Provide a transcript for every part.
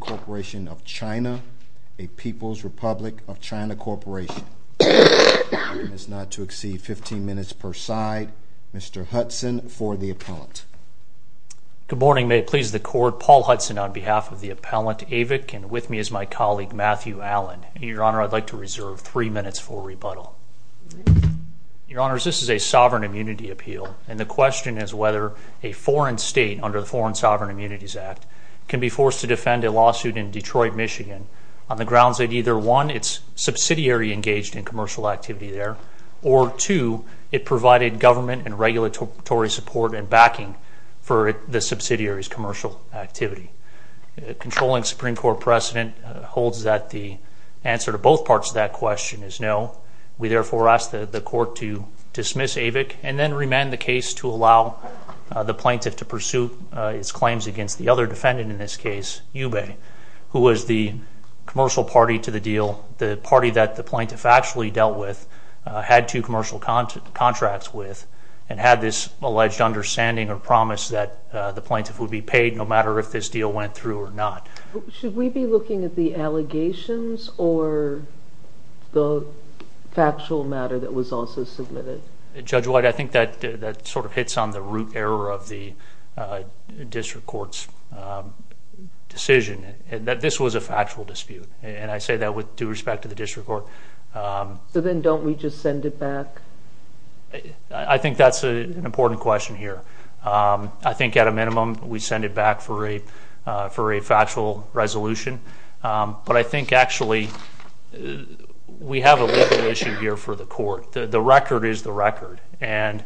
Corporation of China, a People's Republic of China Corporation. I ask not to exceed 15 minutes per side. Mr. Hudson for the appellant. Good morning. May it please the Court. Paul Hudson on behalf of the appellant, Avick, and with me is my colleague, Matt Smith. Thank you for having me. Your Honor, I'd like to reserve three minutes for rebuttal. Your Honors, this is a sovereign immunity appeal, and the question is whether a foreign state, under the Foreign Sovereign Immunities Act, can be forced to defend a lawsuit in Detroit, Michigan, on the grounds that either one, it's subsidiary engaged in commercial activity there, or two, it provided government and regulatory support and backing for the subsidiary's commercial activity. The controlling Supreme Court precedent holds that the answer to both parts of that question is no. We therefore ask the Court to dismiss Avick, and then remand the case to allow the plaintiff to pursue its claims against the other defendant in this case, Yubei, who was the commercial party to the deal, the party that the plaintiff actually dealt with, had two commercial contracts with, and had this alleged understanding or promise that the plaintiff would be paid no matter if this deal went through or not. Should we be looking at the allegations or the factual matter that was also submitted? Judge White, I think that sort of hits on the root error of the district court's decision, that this was a factual dispute, and I say that with due respect to the district court. So then don't we just send it back? I think that's an important question here. I think at a minimum we send it back for a factual resolution, but I think actually we have a legal issue here for the court. The record is the record, and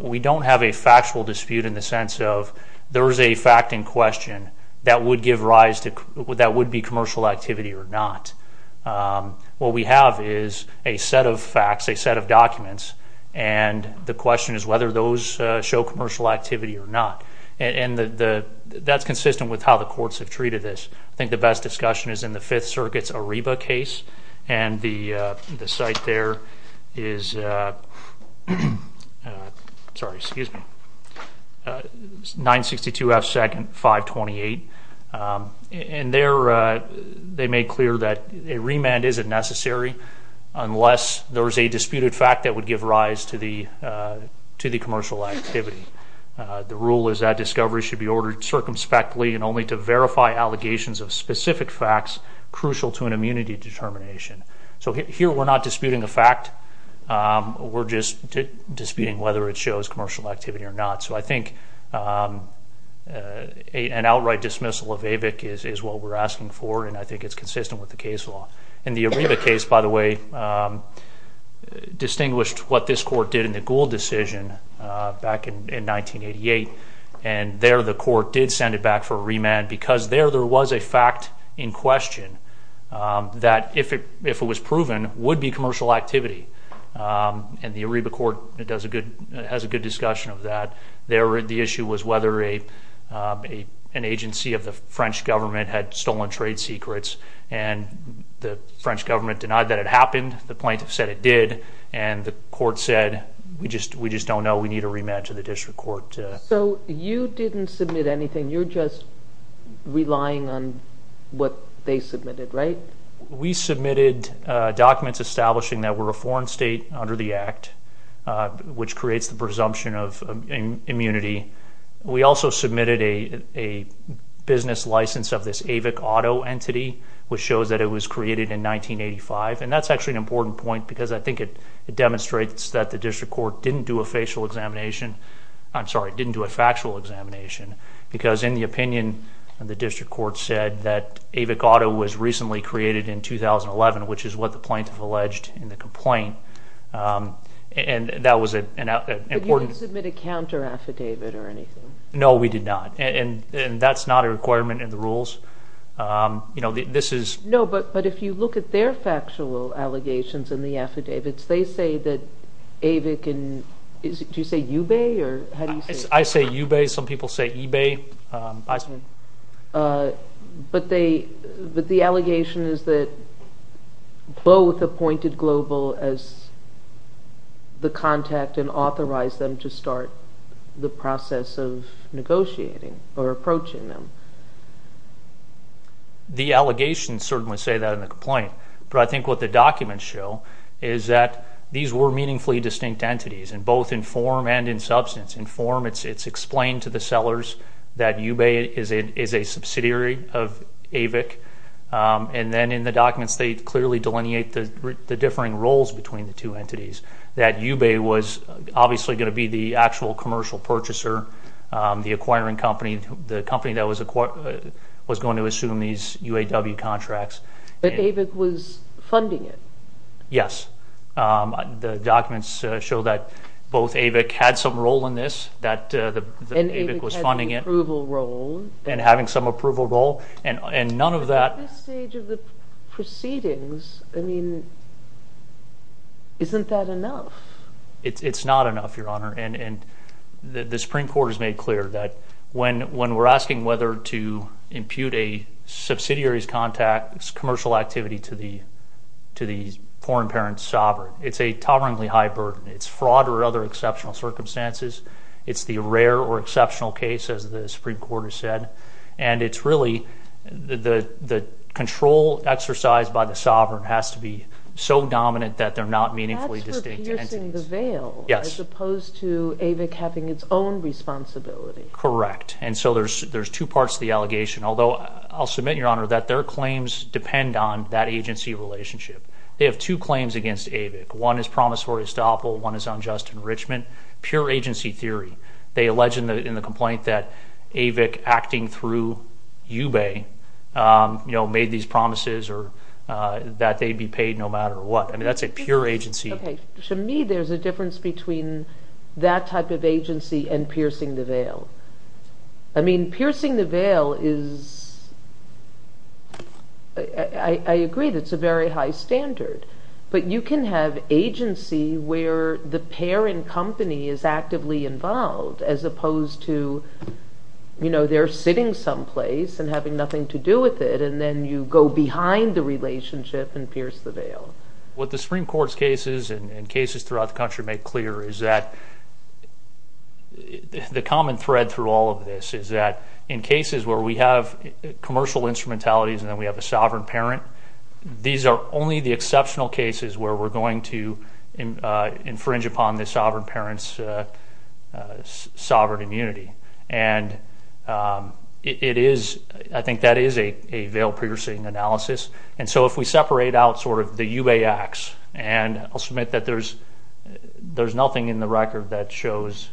we don't have a factual dispute in the sense of there is a fact in question that would give rise to, that would be commercial activity or not. What we have is a set of facts, a set of documents, and the question is whether those show commercial activity or not. And that's consistent with how the courts have treated this. I think the best discussion is in the Fifth Circuit's Ariba case, and the site there is 962 F. Sec. 528. And there they made clear that a remand isn't necessary unless there is a disputed fact that would give rise to the commercial activity. The rule is that discovery should be ordered circumspectly and only to verify allegations of specific facts crucial to an immunity determination. So here we're not disputing a fact. We're just disputing whether it shows commercial activity or not. So I think an outright dismissal of AVIC is what we're asking for, and I think it's consistent with the case law. And the Ariba case, by the way, distinguished what this court did in the Gould decision back in 1988, and there the court did send it back for a remand because there there was a fact in question that if it was proven, would be commercial activity. And the Ariba court has a good discussion of that. There the issue was whether an agency of the French government had stolen trade secrets, and the French government denied that it happened. The plaintiff said it did, and the court said we just don't know. We need a remand to the district court. So you didn't submit anything. You're just relying on what they submitted, right? We submitted documents establishing that we're a foreign state under the Act, which creates the presumption of immunity. We also submitted a business license of this AVIC auto entity, which shows that it was created in 1985, and that's actually an important point because I think it demonstrates that the district court didn't do a facial examination. I'm sorry, didn't do a factual examination, because in the opinion of the district court said that AVIC auto was recently created in 2011, which is what the plaintiff alleged in the complaint, and that was an important. You didn't submit a counter affidavit or anything. No, we did not, and that's not a requirement in the rules. This is. No, but if you look at their factual allegations in the affidavits, they say that AVIC, do you say eBay? I say eBay. Some people say eBay. But the allegation is that both appointed Global as the contact and authorized them to start the process of negotiating or approaching them. The allegations certainly say that in the complaint, but I think what the documents show is that these were meaningfully distinct entities, and both in form and in substance. In form, it's explained to the sellers that eBay is a subsidiary of AVIC, and then in the documents they clearly delineate the differing roles between the two entities, that eBay was obviously going to be the actual commercial purchaser, the acquiring company, the company that was going to assume these UAW contracts. But AVIC was funding it. Yes. The documents show that both AVIC had some role in this, that AVIC was funding it. And AVIC had an approval role. And having some approval role, and none of that. At this stage of the proceedings, I mean, isn't that enough? It's not enough, Your Honor, and the Supreme Court has made clear that when we're asking whether to impute a subsidiary's contact, commercial activity to the foreign parent's sovereign, it's a tolerably high burden. It's fraud or other exceptional circumstances. It's the rare or exceptional case, as the Supreme Court has said. And it's really the control exercised by the sovereign has to be so dominant that they're not meaningfully distinct entities. That's for piercing the veil. Yes. As opposed to AVIC having its own responsibility. Correct. And so there's two parts to the allegation. Although I'll submit, Your Honor, that their claims depend on that agency relationship. They have two claims against AVIC. One is promissory estoppel. One is unjust enrichment. Pure agency theory. They allege in the complaint that AVIC acting through UBEI, you know, made these promises that they'd be paid no matter what. I mean, that's a pure agency. Okay. To me, there's a difference between that type of agency and piercing the veil. I mean, piercing the veil is, I agree, that's a very high standard. But you can have agency where the parent company is actively involved as opposed to, you know, they're sitting someplace and having nothing to do with it, and then you go behind the relationship and pierce the veil. What the Supreme Court's cases and cases throughout the country make clear is that the common thread through all of this is that in cases where we have commercial instrumentalities and then we have a sovereign parent, these are only the exceptional cases where we're going to infringe upon the sovereign parent's sovereign immunity. And I think that is a veil-piercing analysis. And so if we separate out sort of the UBEI acts, and I'll submit that there's nothing in the record that shows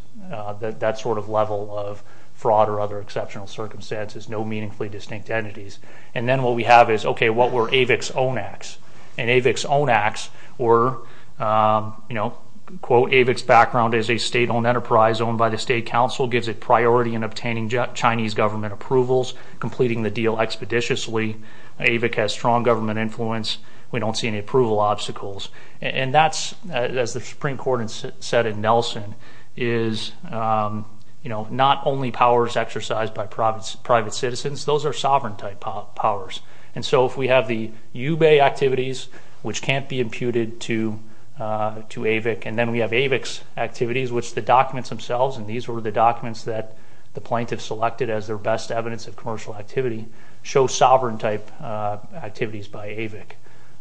that sort of level of fraud or other exceptional circumstances, no meaningfully distinct entities. And then what we have is, okay, what were AVIC's own acts? And AVIC's own acts were, you know, quote, AVIC's background is a state-owned enterprise owned by the state council, gives it priority in obtaining Chinese government approvals, completing the deal expeditiously. AVIC has strong government influence. We don't see any approval obstacles. And that's, as the Supreme Court said in Nelson, is, you know, not only powers exercised by private citizens. Those are sovereign-type powers. And so if we have the UBEI activities, which can't be imputed to AVIC, and then we have AVIC's activities, which the documents themselves, and these were the documents that the plaintiffs selected as their best evidence of commercial activity, show sovereign-type activities by AVIC.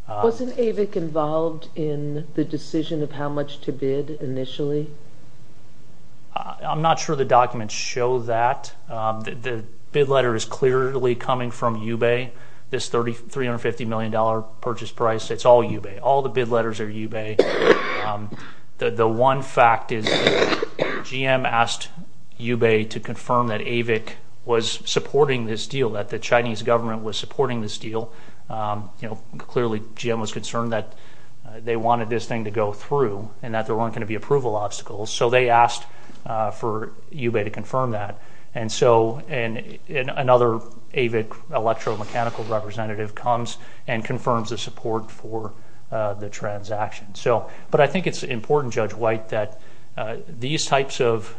Wasn't AVIC involved in the decision of how much to bid initially? I'm not sure the documents show that. The bid letter is clearly coming from UBEI, this $350 million purchase price. It's all UBEI. All the bid letters are UBEI. The one fact is GM asked UBEI to confirm that AVIC was supporting this deal, that the Chinese government was supporting this deal. You know, clearly GM was concerned that they wanted this thing to go through and that there weren't going to be approval obstacles, so they asked for UBEI to confirm that. And so another AVIC electromechanical representative comes and confirms the support for the transaction. But I think it's important, Judge White, that these types of,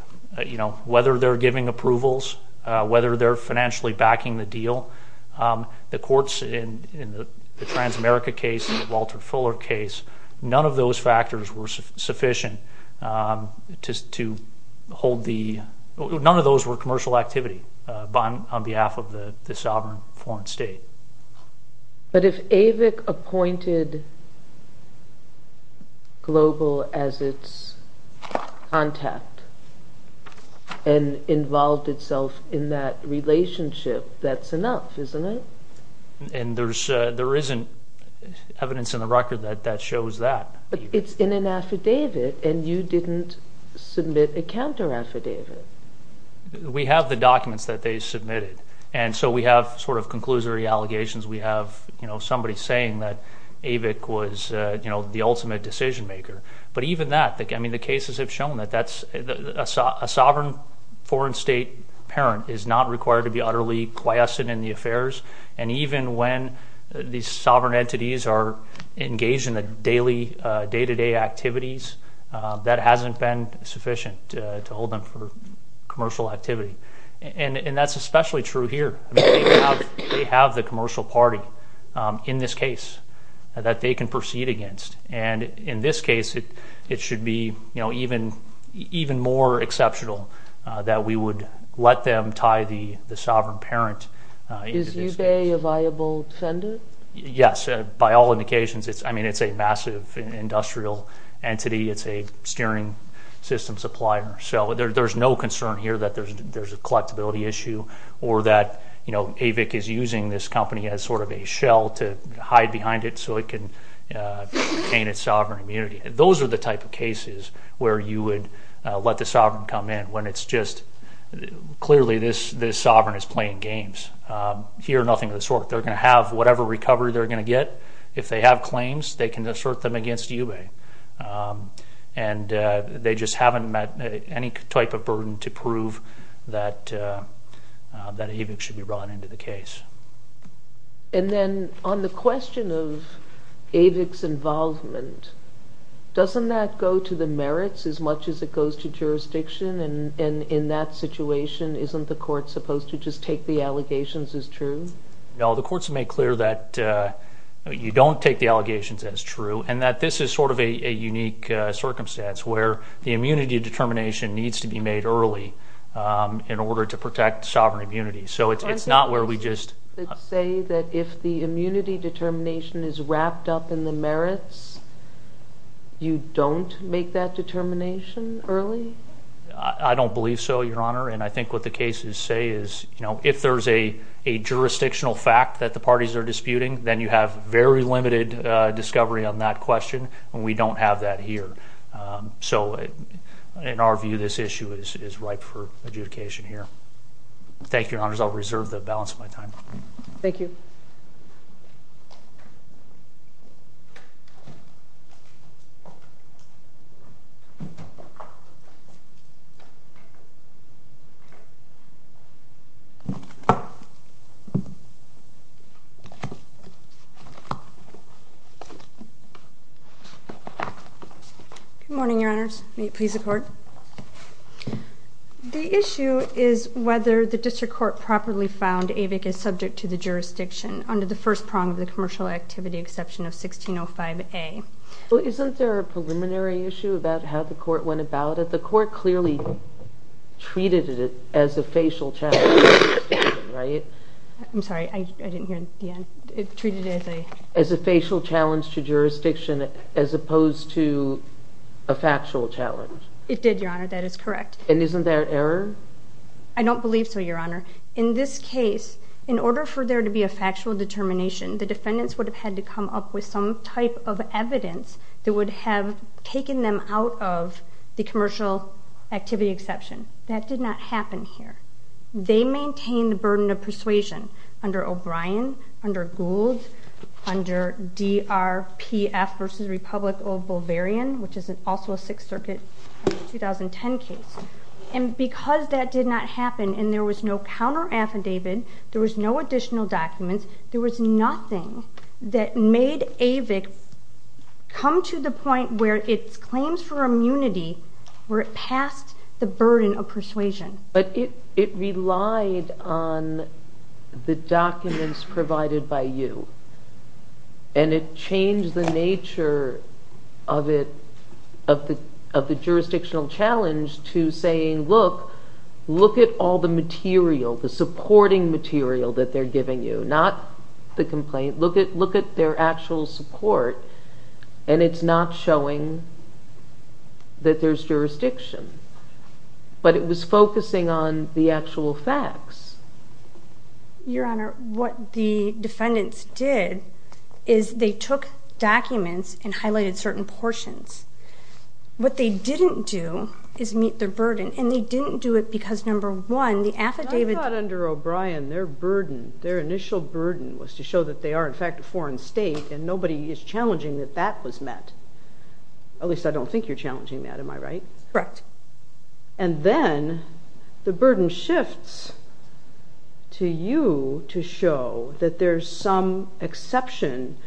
you know, whether they're giving approvals, whether they're financially backing the deal, the courts in the Transamerica case and the Walter Fuller case, none of those factors were sufficient to hold the – But if AVIC appointed Global as its contact and involved itself in that relationship, that's enough, isn't it? And there isn't evidence in the record that that shows that. It's in an affidavit, and you didn't submit a counteraffidavit. We have the documents that they submitted, and so we have sort of conclusory allegations. We have, you know, somebody saying that AVIC was, you know, the ultimate decision-maker. But even that, I mean, the cases have shown that a sovereign foreign state parent is not required to be utterly quiescent in the affairs. And even when these sovereign entities are engaged in the daily day-to-day activities, that hasn't been sufficient to hold them for commercial activity. And that's especially true here. I mean, they have the commercial party in this case that they can proceed against. And in this case, it should be, you know, even more exceptional that we would let them tie the sovereign parent into this case. Is eBay a viable vendor? Yes, by all indications. I mean, it's a massive industrial entity. It's a steering system supplier. So there's no concern here that there's a collectability issue or that, you know, AVIC is using this company as sort of a shell to hide behind it so it can gain its sovereign immunity. Those are the type of cases where you would let the sovereign come in when it's just clearly this sovereign is playing games. Here, nothing of the sort. They're going to have whatever recovery they're going to get. If they have claims, they can assert them against eBay. And they just haven't met any type of burden to prove that AVIC should be brought into the case. And then on the question of AVIC's involvement, doesn't that go to the merits as much as it goes to jurisdiction? And in that situation, isn't the court supposed to just take the allegations as true? No, the court's made clear that you don't take the allegations as true and that this is sort of a unique circumstance where the immunity determination needs to be made early in order to protect sovereign immunity. So it's not where we just— But say that if the immunity determination is wrapped up in the merits, you don't make that determination early? I don't believe so, Your Honor. And I think what the cases say is, you know, if there's a jurisdictional fact that the parties are disputing, then you have very limited discovery on that question, and we don't have that here. So in our view, this issue is ripe for adjudication here. Thank you, Your Honors. I'll reserve the balance of my time. Thank you. Good morning, Your Honors. May it please the Court. The issue is whether the district court properly found Avick is subject to the jurisdiction under the first prong of the commercial activity exception of 1605A. Well, isn't there a preliminary issue about how the court went about it? The court clearly treated it as a facial check, right? I'm sorry, I didn't hear the end. As a facial challenge to jurisdiction as opposed to a factual challenge. It did, Your Honor. That is correct. And isn't there an error? I don't believe so, Your Honor. In this case, in order for there to be a factual determination, the defendants would have had to come up with some type of evidence that would have taken them out of the commercial activity exception. That did not happen here. They maintained the burden of persuasion under O'Brien, under Gould, under DRPF v. Republic of Bulvarian, which is also a Sixth Circuit 2010 case. And because that did not happen and there was no counter-affidavit, there was no additional documents, there was nothing that made Avick come to the point where its claims for immunity were past the burden of persuasion. But it relied on the documents provided by you, and it changed the nature of the jurisdictional challenge to saying, look, look at all the material, the supporting material that they're giving you, not the complaint. Look at their actual support, and it's not showing that there's jurisdiction. But it was focusing on the actual facts. Your Honor, what the defendants did is they took documents and highlighted certain portions. What they didn't do is meet their burden, and they didn't do it because, number one, the affidavit... I thought under O'Brien their burden, their initial burden, was to show that they are, in fact, a foreign state, and nobody is challenging that that was met. At least I don't think you're challenging that. Am I right? Correct. And then the burden shifts to you to show that there's some exception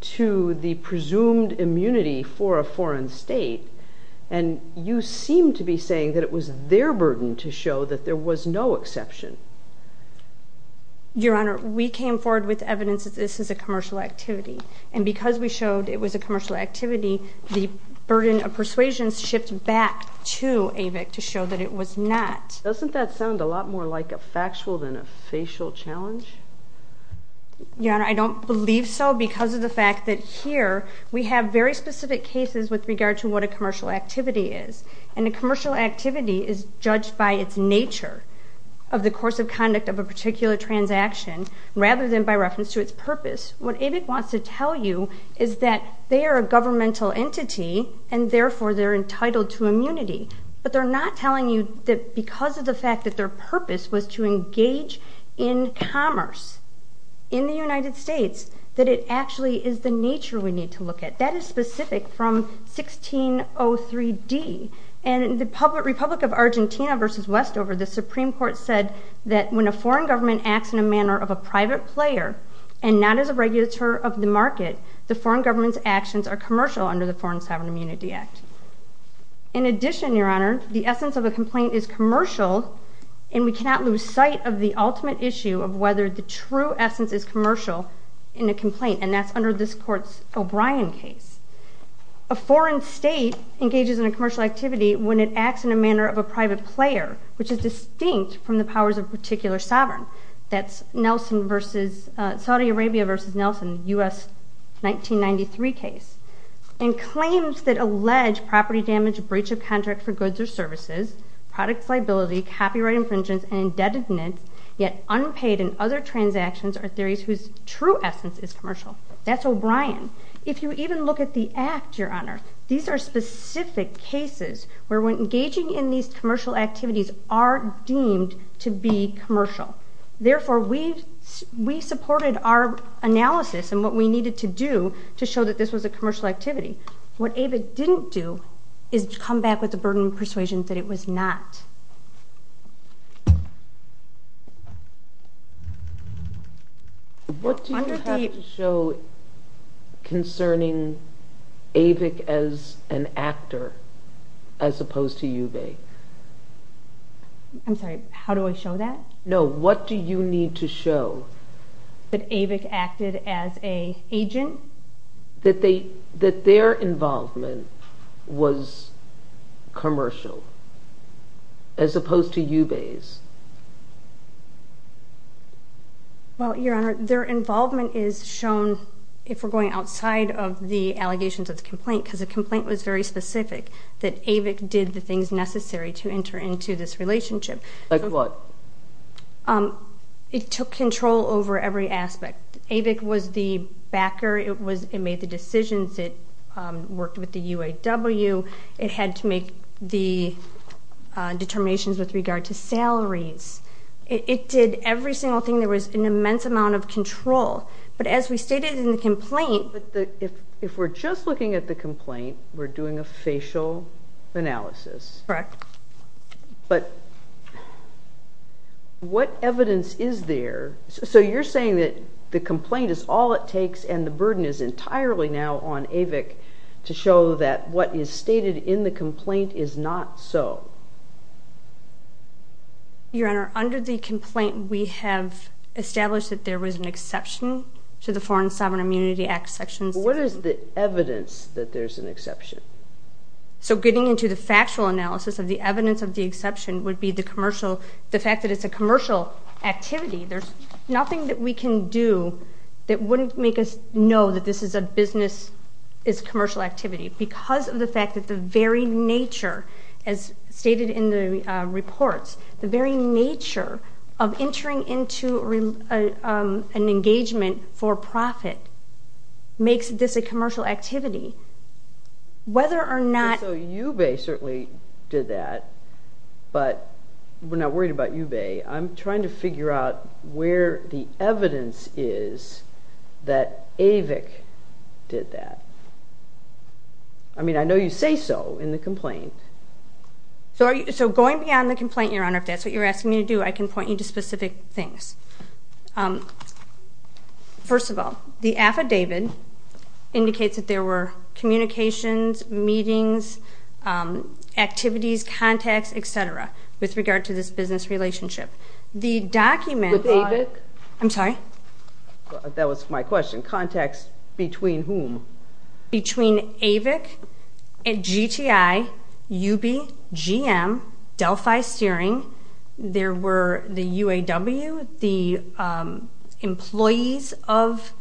to the presumed immunity for a foreign state, and you seem to be saying that it was their burden to show that there was no exception. Your Honor, we came forward with evidence that this is a commercial activity, and because we showed it was a commercial activity, the burden of persuasion shifts back to AVIC to show that it was not. Doesn't that sound a lot more like a factual than a facial challenge? Your Honor, I don't believe so because of the fact that here we have very specific cases with regard to what a commercial activity is, and a commercial activity is judged by its nature of the course of conduct of a particular transaction rather than by reference to its purpose. What AVIC wants to tell you is that they are a governmental entity, and therefore they're entitled to immunity. But they're not telling you that because of the fact that their purpose was to engage in commerce in the United States, that it actually is the nature we need to look at. That is specific from 1603D. And in the Republic of Argentina v. Westover, the Supreme Court said that when a foreign government acts in a manner of a private player and not as a regulator of the market, the foreign government's actions are commercial under the Foreign Sovereign Immunity Act. In addition, Your Honor, the essence of a complaint is commercial, and we cannot lose sight of the ultimate issue of whether the true essence is commercial in a complaint, and that's under this Court's O'Brien case. A foreign state engages in a commercial activity when it acts in a manner of a private player, which is distinct from the powers of a particular sovereign. That's Saudi Arabia v. Nelson, U.S. 1993 case. And claims that allege property damage, breach of contract for goods or services, product liability, copyright infringement, and indebtedness, yet unpaid in other transactions are theories whose true essence is commercial. That's O'Brien. If you even look at the Act, Your Honor, these are specific cases where engaging in these commercial activities are deemed to be commercial. Therefore, we supported our analysis and what we needed to do to show that this was a commercial activity. What AVIC didn't do is come back with the burden of persuasion that it was not. What do you have to show concerning AVIC as an actor as opposed to UVA? I'm sorry, how do I show that? No, what do you need to show? That AVIC acted as an agent? That their involvement was commercial as opposed to UVA's. Well, Your Honor, their involvement is shown, if we're going outside of the allegations of the complaint, because the complaint was very specific, that AVIC did the things necessary to enter into this relationship. Like what? It took control over every aspect. AVIC was the backer. It made the decisions. It worked with the UAW. It had to make the determinations with regard to salaries. It did every single thing. There was an immense amount of control. But as we stated in the complaint... But if we're just looking at the complaint, we're doing a facial analysis. Correct. But what evidence is there? So you're saying that the complaint is all it takes and the burden is entirely now on AVIC to show that what is stated in the complaint is not so. Your Honor, under the complaint, we have established that there was an exception to the Foreign Sovereign Immunity Act sections. What is the evidence that there's an exception? So getting into the factual analysis of the evidence of the exception would be the fact that it's a commercial activity. There's nothing that we can do that wouldn't make us know that this is a business, is a commercial activity. Because of the fact that the very nature, as stated in the reports, the very nature of entering into an engagement for profit makes this a commercial activity. Whether or not... So UBEH certainly did that, but we're not worried about UBEH. I'm trying to figure out where the evidence is that AVIC did that. I mean, I know you say so in the complaint. So going beyond the complaint, Your Honor, if that's what you're asking me to do, I can point you to specific things. First of all, the affidavit indicates that there were communications, meetings, activities, contacts, et cetera, with regard to this business relationship. The document... With AVIC? I'm sorry? That was my question. Contacts between whom? Between AVIC, GTI, UBEH, GM, Delphi Steering. There were the UAW, the employees of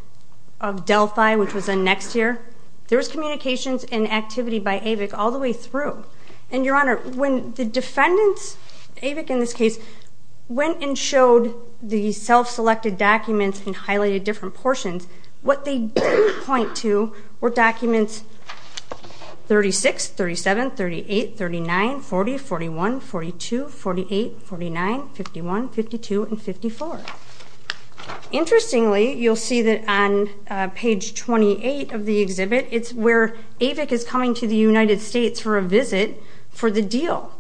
Delphi, which was in next year. There was communications and activity by AVIC all the way through. And, Your Honor, when the defendants, AVIC in this case, went and showed the self-selected documents and highlighted different portions, what they did point to were documents 36, 37, 38, 39, 40, 41, 42, 48, 49, 51, 52, and 54. Interestingly, you'll see that on page 28 of the exhibit, it's where AVIC is coming to the United States for a visit for the deal,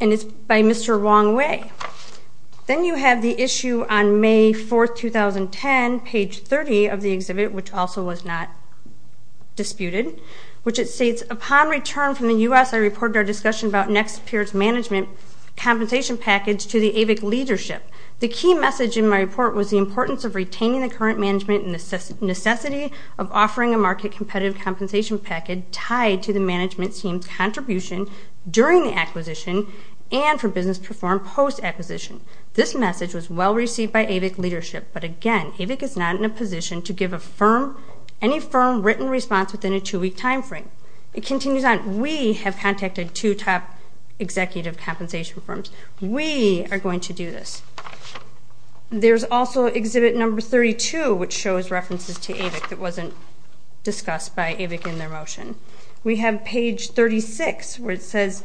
and it's by Mr. Wong Wei. Then you have the issue on May 4, 2010, page 30 of the exhibit, which also was not disputed, which it states, Upon return from the U.S., I reported our discussion about next year's management compensation package to the AVIC leadership. The key message in my report was the importance of retaining the current management and necessity of offering a market competitive compensation package tied to the management team's contribution during the acquisition and for business performed post-acquisition. This message was well received by AVIC leadership, but again, AVIC is not in a position to give a firm, any firm written response within a two-week time frame. It continues on. We have contacted two top executive compensation firms. We are going to do this. There's also exhibit number 32, which shows references to AVIC that wasn't discussed by AVIC in their motion. We have page 36, where it says,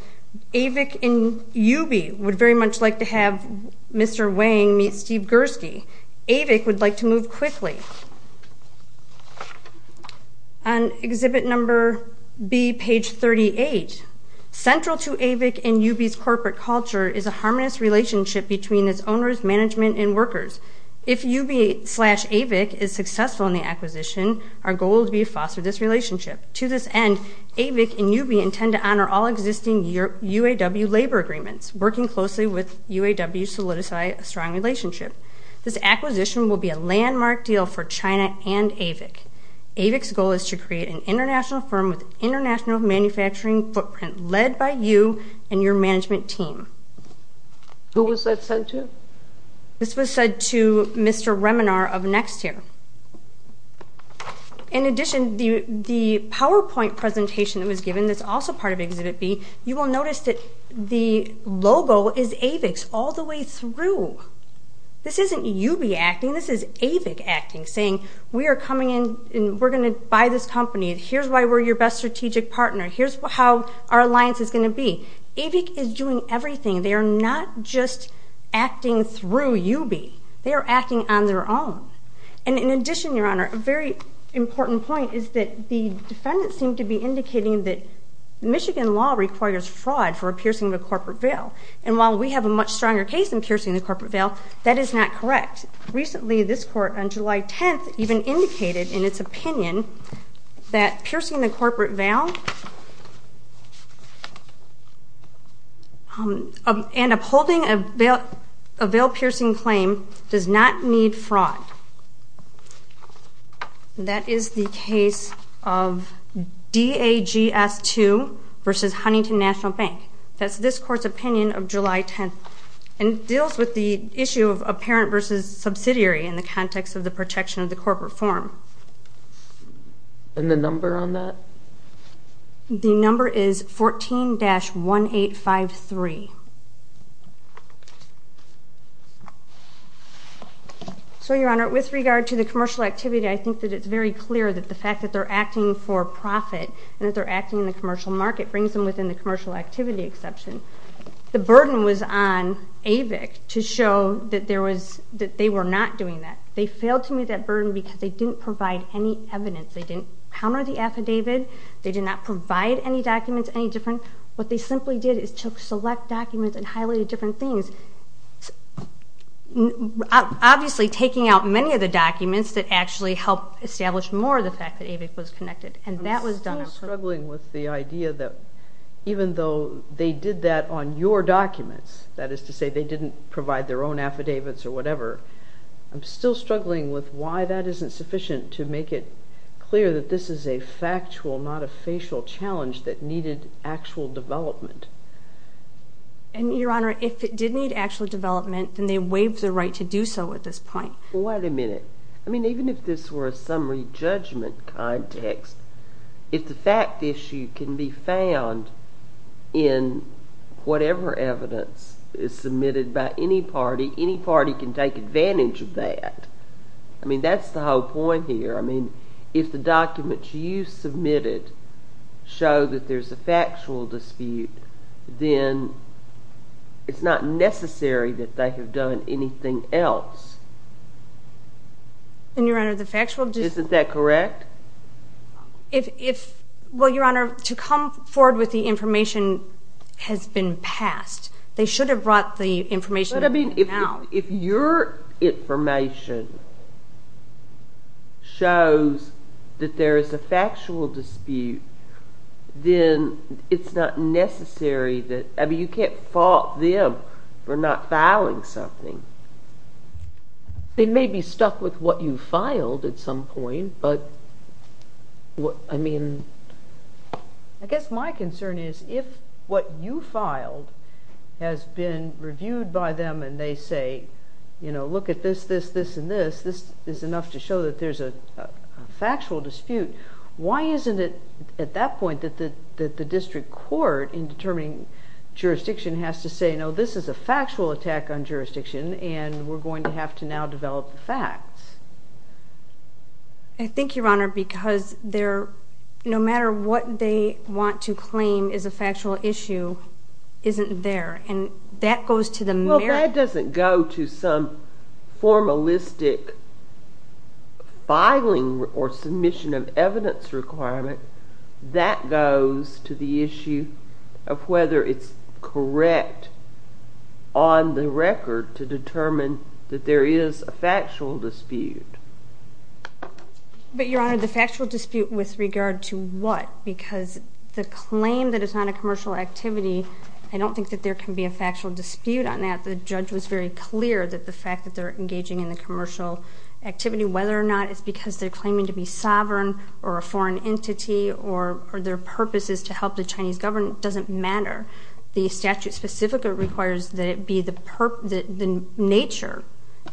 AVIC and UB would very much like to have Mr. Wang meet Steve Gursky. AVIC would like to move quickly. On exhibit number B, page 38, Central to AVIC and UB's corporate culture is a harmonious relationship between its owners, management, and workers. If UB slash AVIC is successful in the acquisition, our goal would be to foster this relationship. To this end, AVIC and UB intend to honor all existing UAW labor agreements, working closely with UAW to solidify a strong relationship. This acquisition will be a landmark deal for China and AVIC. AVIC's goal is to create an international firm with international manufacturing footprint, led by you and your management team. Who was that sent to? This was sent to Mr. Reminar of Nextair. In addition, the PowerPoint presentation that was given that's also part of exhibit B, you will notice that the logo is AVIC's all the way through. This isn't UB acting. This is AVIC acting, saying, we are coming in and we're going to buy this company. Here's why we're your best strategic partner. Here's how our alliance is going to be. AVIC is doing everything. They are not just acting through UB. They are acting on their own. And in addition, Your Honor, a very important point is that the defendants seem to be indicating that Michigan law requires fraud for a piercing of a corporate veil. And while we have a much stronger case in piercing the corporate veil, that is not correct. Recently, this court on July 10th even indicated in its opinion that piercing the corporate veil and upholding a veil-piercing claim does not need fraud. That is the case of DAGS 2 versus Huntington National Bank. That's this court's opinion of July 10th. And it deals with the issue of apparent versus subsidiary in the context of the protection of the corporate form. And the number on that? The number is 14-1853. So, Your Honor, with regard to the commercial activity, I think that it's very clear that the fact that they're acting for profit and that they're acting in the commercial market brings them within the commercial activity exception. The burden was on AVIC to show that they were not doing that. They failed to meet that burden because they didn't provide any evidence. They didn't counter the affidavit. They did not provide any documents, any different. What they simply did is took select documents and highlighted different things, obviously taking out many of the documents that actually helped establish more of the fact that AVIC was connected. And that was done on purpose. I'm still struggling with the idea that even though they did that on your documents, that is to say they didn't provide their own affidavits or whatever, I'm still struggling with why that isn't sufficient to make it clear that this is a factual, not a facial challenge that needed actual development. And, Your Honor, if it did need actual development, then they waived the right to do so at this point. Well, wait a minute. I mean, even if this were a summary judgment context, if the fact issue can be found in whatever evidence is submitted by any party, any party can take advantage of that. I mean, that's the whole point here. I mean, if the documents you submitted show that there's a factual dispute, then it's not necessary that they have done anything else. And, Your Honor, the factual dispute... Isn't that correct? Well, Your Honor, to come forward with the information has been passed. They should have brought the information now. But, I mean, if your information shows that there is a factual dispute, then it's not necessary that... I mean, you can't fault them for not filing something. They may be stuck with what you filed at some point, but, I mean... I guess my concern is if what you filed has been reviewed by them and they say, you know, look at this, this, this, and this. This is enough to show that there's a factual dispute. Why isn't it at that point that the district court in determining jurisdiction has to say, no, this is a factual attack on jurisdiction, I think, Your Honor, because no matter what they want to claim is a factual issue isn't there. And that goes to the merit... Well, that doesn't go to some formalistic filing or submission of evidence requirement. That goes to the issue of whether it's correct on the record to determine that there is a factual dispute. But, Your Honor, the factual dispute with regard to what? Because the claim that it's not a commercial activity, I don't think that there can be a factual dispute on that. The judge was very clear that the fact that they're engaging in the commercial activity, whether or not it's because they're claiming to be sovereign or a foreign entity or their purpose is to help the Chinese government doesn't matter. The statute specifically requires that it be the nature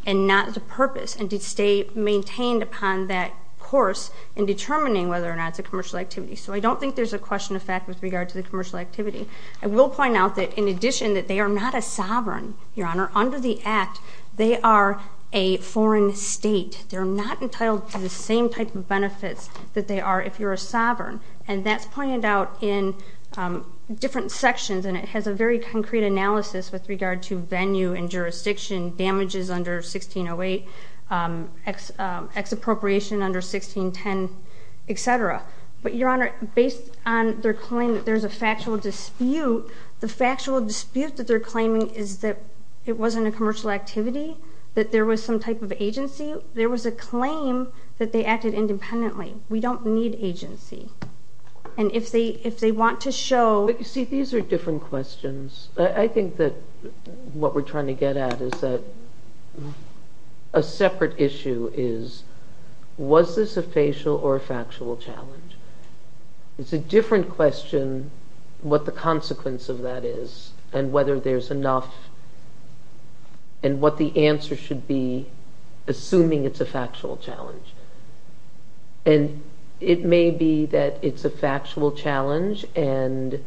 and not the purpose and to stay maintained upon that course in determining whether or not it's a commercial activity. So I don't think there's a question of fact with regard to the commercial activity. I will point out that, in addition, that they are not a sovereign, Your Honor. Under the Act, they are a foreign state. They're not entitled to the same type of benefits that they are if you're a sovereign. And that's pointed out in different sections, and it has a very concrete analysis with regard to venue and jurisdiction, damages under 1608, ex-appropriation under 1610, et cetera. But, Your Honor, based on their claim that there's a factual dispute, the factual dispute that they're claiming is that it wasn't a commercial activity, that there was some type of agency. There was a claim that they acted independently. We don't need agency. And if they want to show— But, you see, these are different questions. I think that what we're trying to get at is that a separate issue is, was this a facial or a factual challenge? It's a different question what the consequence of that is and whether there's enough and what the answer should be, assuming it's a factual challenge. And it may be that it's a factual challenge and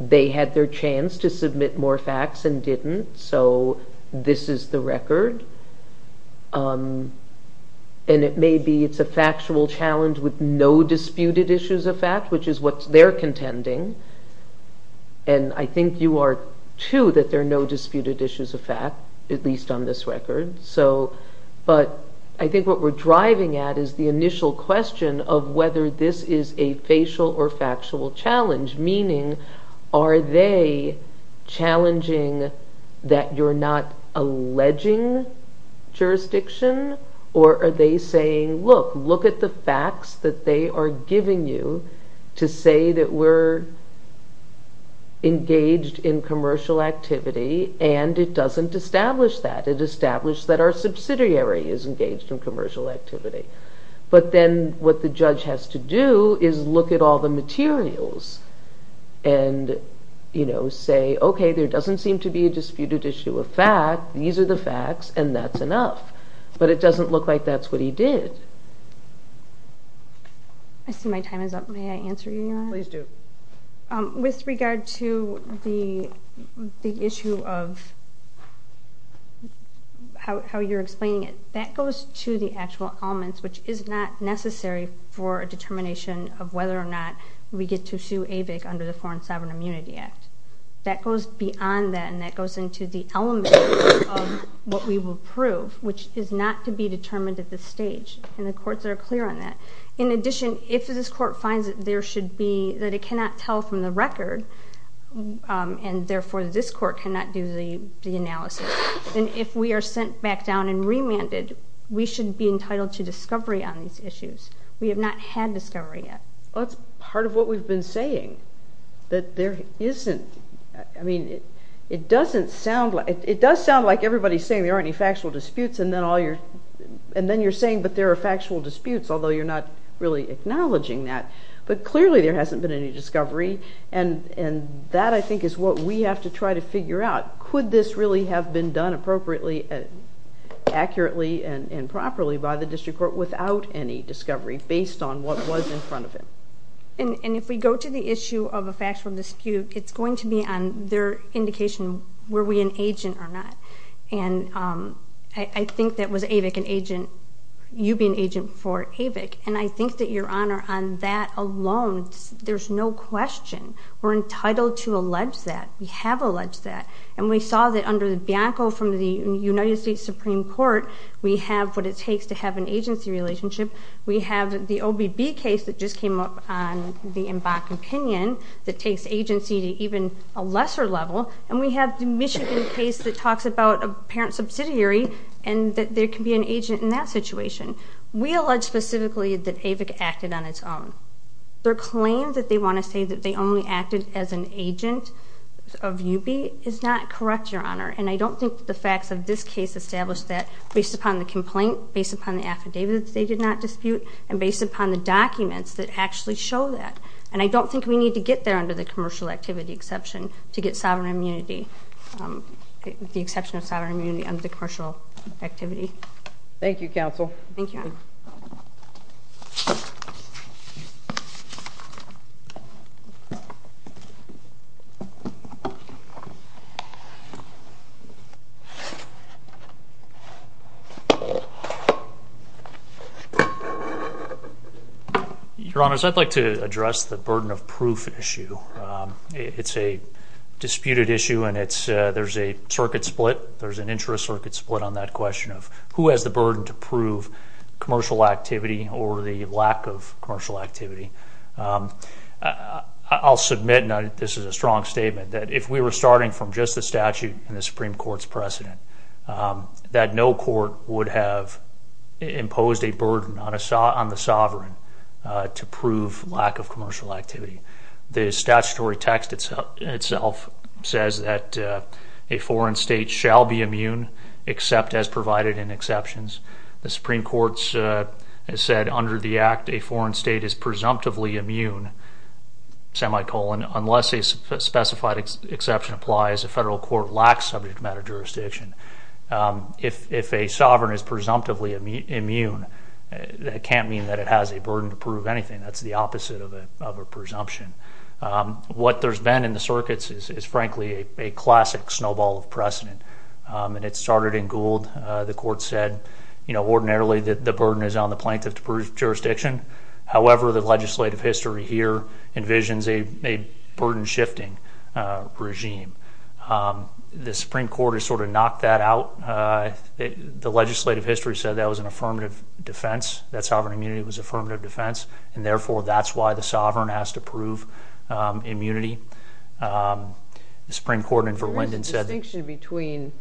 they had their chance to submit more facts and didn't, so this is the record. And it may be it's a factual challenge with no disputed issues of fact, which is what they're contending. And I think you are, too, that there are no disputed issues of fact, at least on this record. But I think what we're driving at is the initial question of whether this is a facial or factual challenge, meaning are they challenging that you're not alleging jurisdiction or are they saying, look, look at the facts that they are giving you to say that we're engaged in commercial activity and it doesn't establish that. It established that our subsidiary is engaged in commercial activity. But then what the judge has to do is look at all the materials and say, okay, there doesn't seem to be a disputed issue of fact. These are the facts and that's enough. But it doesn't look like that's what he did. I see my time is up. May I answer your question? Please do. With regard to the issue of how you're explaining it, that goes to the actual elements, which is not necessary for a determination of whether or not we get to sue AVIC under the Foreign Sovereign Immunity Act. That goes beyond that and that goes into the elements of what we will prove, which is not to be determined at this stage. And the courts are clear on that. In addition, if this court finds that there should be, that it cannot tell from the record, and therefore this court cannot do the analysis, then if we are sent back down and remanded, we should be entitled to discovery on these issues. We have not had discovery yet. That's part of what we've been saying, that there isn't. I mean, it doesn't sound like, it does sound like everybody's saying there aren't any factual disputes and then you're saying, but there are factual disputes, although you're not really acknowledging that. But clearly there hasn't been any discovery, and that, I think, is what we have to try to figure out. Could this really have been done appropriately, accurately, and properly by the district court without any discovery based on what was in front of him? And if we go to the issue of a factual dispute, it's going to be on their indication, were we an agent or not? And I think that was AVIC an agent, you being an agent for AVIC, and I think that, Your Honor, on that alone, there's no question. We're entitled to allege that. We have alleged that. And we saw that under Bianco from the United States Supreme Court, we have what it takes to have an agency relationship. We have the OBB case that just came up on the MBAC opinion that takes agency to even a lesser level, and we have the Michigan case that talks about a parent subsidiary and that there can be an agent in that situation. We allege specifically that AVIC acted on its own. Their claim that they want to say that they only acted as an agent of UB is not correct, Your Honor, and I don't think that the facts of this case establish that based upon the complaint, based upon the affidavits they did not dispute, and based upon the documents that actually show that. And I don't think we need to get there under the commercial activity exception to get sovereign immunity, the exception of sovereign immunity under the commercial activity. Thank you, Counsel. Thank you. Your Honors, I'd like to address the burden of proof issue. It's a disputed issue, and there's a circuit split. There's an intra-circuit split on that question of who has the burden to prove commercial activity or the lack of commercial activity. I'll submit, and this is a strong statement, that if we were starting from just the statute and the Supreme Court's precedent, that no court would have imposed a burden on the sovereign to prove lack of commercial activity. The statutory text itself says that a foreign state shall be immune, except as provided in exceptions. The Supreme Court has said under the Act, a foreign state is presumptively immune, semi-colon, unless a specified exception applies. A federal court lacks subject matter jurisdiction. If a sovereign is presumptively immune, that can't mean that it has a burden to prove anything. That's the opposite of a presumption. What there's been in the circuits is, frankly, a classic snowball of precedent, and it started in Gould. The court said ordinarily the burden is on the plaintiff to prove jurisdiction. However, the legislative history here envisions a burden-shifting regime. The Supreme Court has sort of knocked that out. The legislative history said that was an affirmative defense, that sovereign immunity was an affirmative defense, and therefore that's why the sovereign has to prove immunity. The Supreme Court in Verwinden said that. There is a distinction between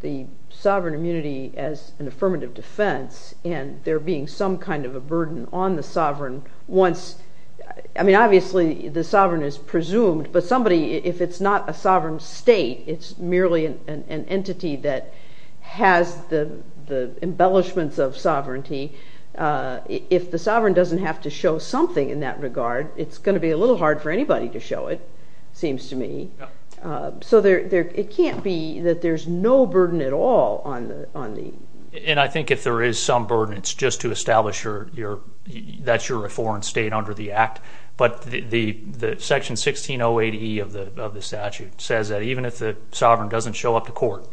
the sovereign immunity as an affirmative defense and there being some kind of a burden on the sovereign once. I mean, obviously the sovereign is presumed, but somebody, if it's not a sovereign state, it's merely an entity that has the embellishments of sovereignty. If the sovereign doesn't have to show something in that regard, it's going to be a little hard for anybody to show it, seems to me. So it can't be that there's no burden at all on the… And I think if there is some burden, it's just to establish that you're a foreign state under the Act. But the Section 1608E of the statute says that even if the sovereign doesn't show up to court,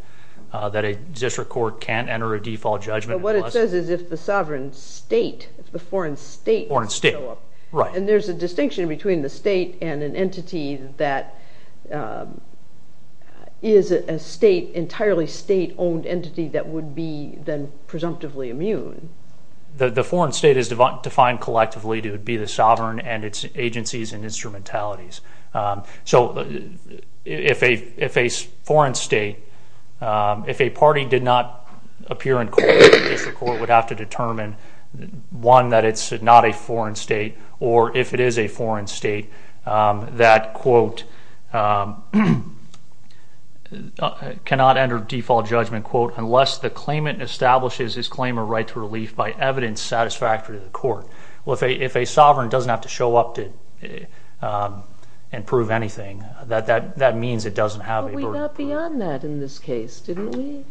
that a district court can't enter a default judgment. But what it says is if the sovereign state, if the foreign state… Foreign state, right. And there's a distinction between the state and an entity that is a state, entirely state-owned entity that would be then presumptively immune. The foreign state is defined collectively to be the sovereign and its agencies and instrumentalities. So if a foreign state, if a party did not appear in court, a district court would have to determine, one, that it's not a foreign state, or if it is a foreign state that, quote, cannot enter default judgment, quote, unless the claimant establishes his claim or right to relief by evidence satisfactory to the court. Well, if a sovereign doesn't have to show up and prove anything, that means it doesn't have a burden. But we got beyond that in this case, didn't we?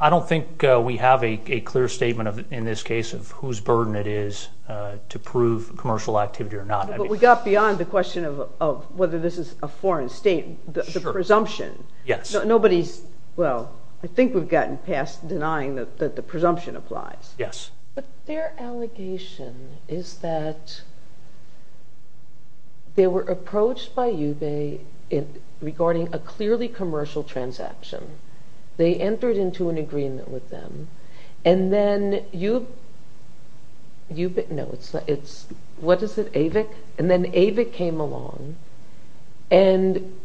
I don't think we have a clear statement in this case of whose burden it is to prove commercial activity or not. But we got beyond the question of whether this is a foreign state, the presumption. Yes. Nobody's, well, I think we've gotten past denying that the presumption applies. Yes. But their allegation is that they were approached by UBE regarding a clearly commercial transaction. They entered into an agreement with them. And then UBE, no, it's, what is it, AVIC? And then AVIC came along and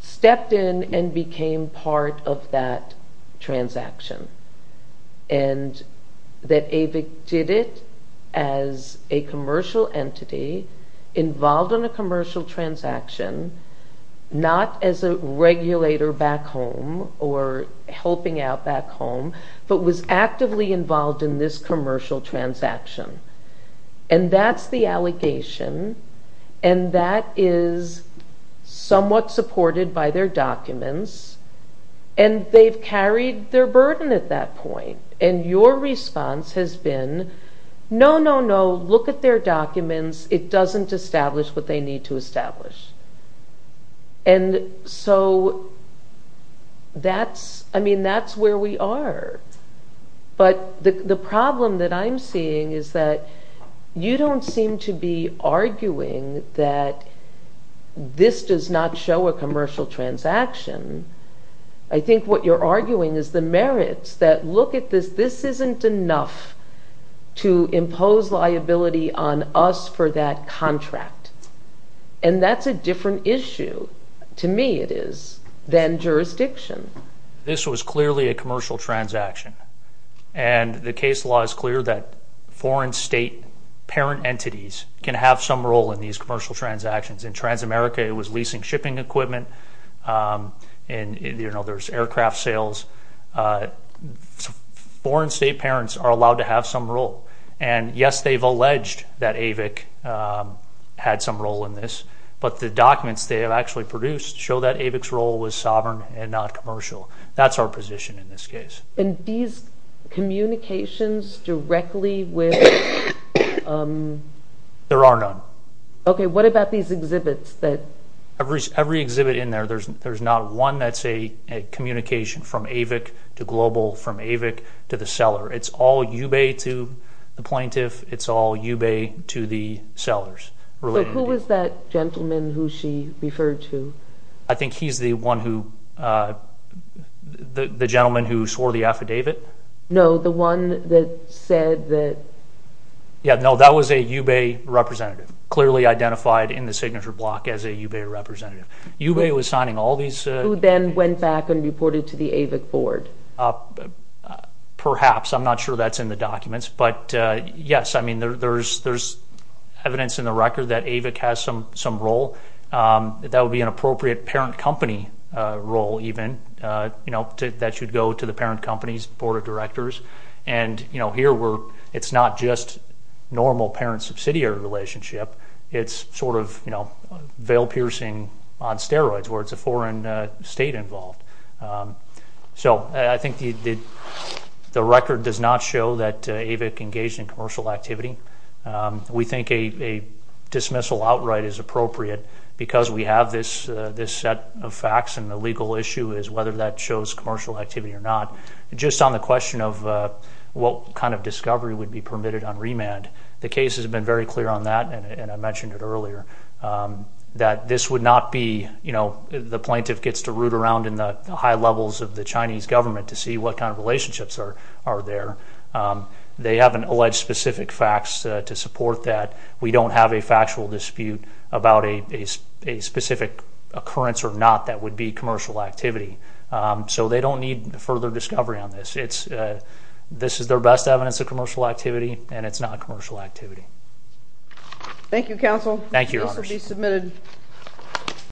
stepped in and became part of that transaction. And that AVIC did it as a commercial entity involved in a commercial transaction, not as a regulator back home or helping out back home, but was actively involved in this commercial transaction. And that's the allegation. And that is somewhat supported by their documents. And they've carried their burden at that point. And your response has been, no, no, no, look at their documents. It doesn't establish what they need to establish. And so that's, I mean, that's where we are. But the problem that I'm seeing is that you don't seem to be arguing that this does not show a commercial transaction. I think what you're arguing is the merits, that look at this. This isn't enough to impose liability on us for that contract. And that's a different issue, to me it is, than jurisdiction. This was clearly a commercial transaction. And the case law is clear that foreign state parent entities can have some role in these commercial transactions. In Transamerica, it was leasing shipping equipment. And, you know, there's aircraft sales. Foreign state parents are allowed to have some role. And, yes, they've alleged that AVIC had some role in this. But the documents they have actually produced show that AVIC's role was sovereign and not commercial. That's our position in this case. And these communications directly with? There are none. Okay, what about these exhibits that? Every exhibit in there, there's not one that's a communication from AVIC to Global, from AVIC to the seller. It's all UBEI to the plaintiff. It's all UBEI to the sellers. So who is that gentleman who she referred to? I think he's the one who, the gentleman who swore the affidavit. No, the one that said that. Yeah, no, that was a UBEI representative, clearly identified in the signature block as a UBEI representative. UBEI was signing all these. Who then went back and reported to the AVIC board? Perhaps. I'm not sure that's in the documents. But, yes, I mean, there's evidence in the record that AVIC has some role. That would be an appropriate parent company role even, you know, that should go to the parent company's board of directors. And, you know, here it's not just normal parent-subsidiary relationship. It's sort of, you know, veil-piercing on steroids where it's a foreign state involved. So I think the record does not show that AVIC engaged in commercial activity. We think a dismissal outright is appropriate because we have this set of facts, and the legal issue is whether that shows commercial activity or not. Just on the question of what kind of discovery would be permitted on remand, the case has been very clear on that, and I mentioned it earlier, that this would not be, you know, the plaintiff gets to root around in the high levels of the Chinese government to see what kind of relationships are there. They haven't alleged specific facts to support that. We don't have a factual dispute about a specific occurrence or not that would be commercial activity. So they don't need further discovery on this. This is their best evidence of commercial activity, and it's not commercial activity. Thank you, Counsel. Thank you, Your Honors. This will be submitted.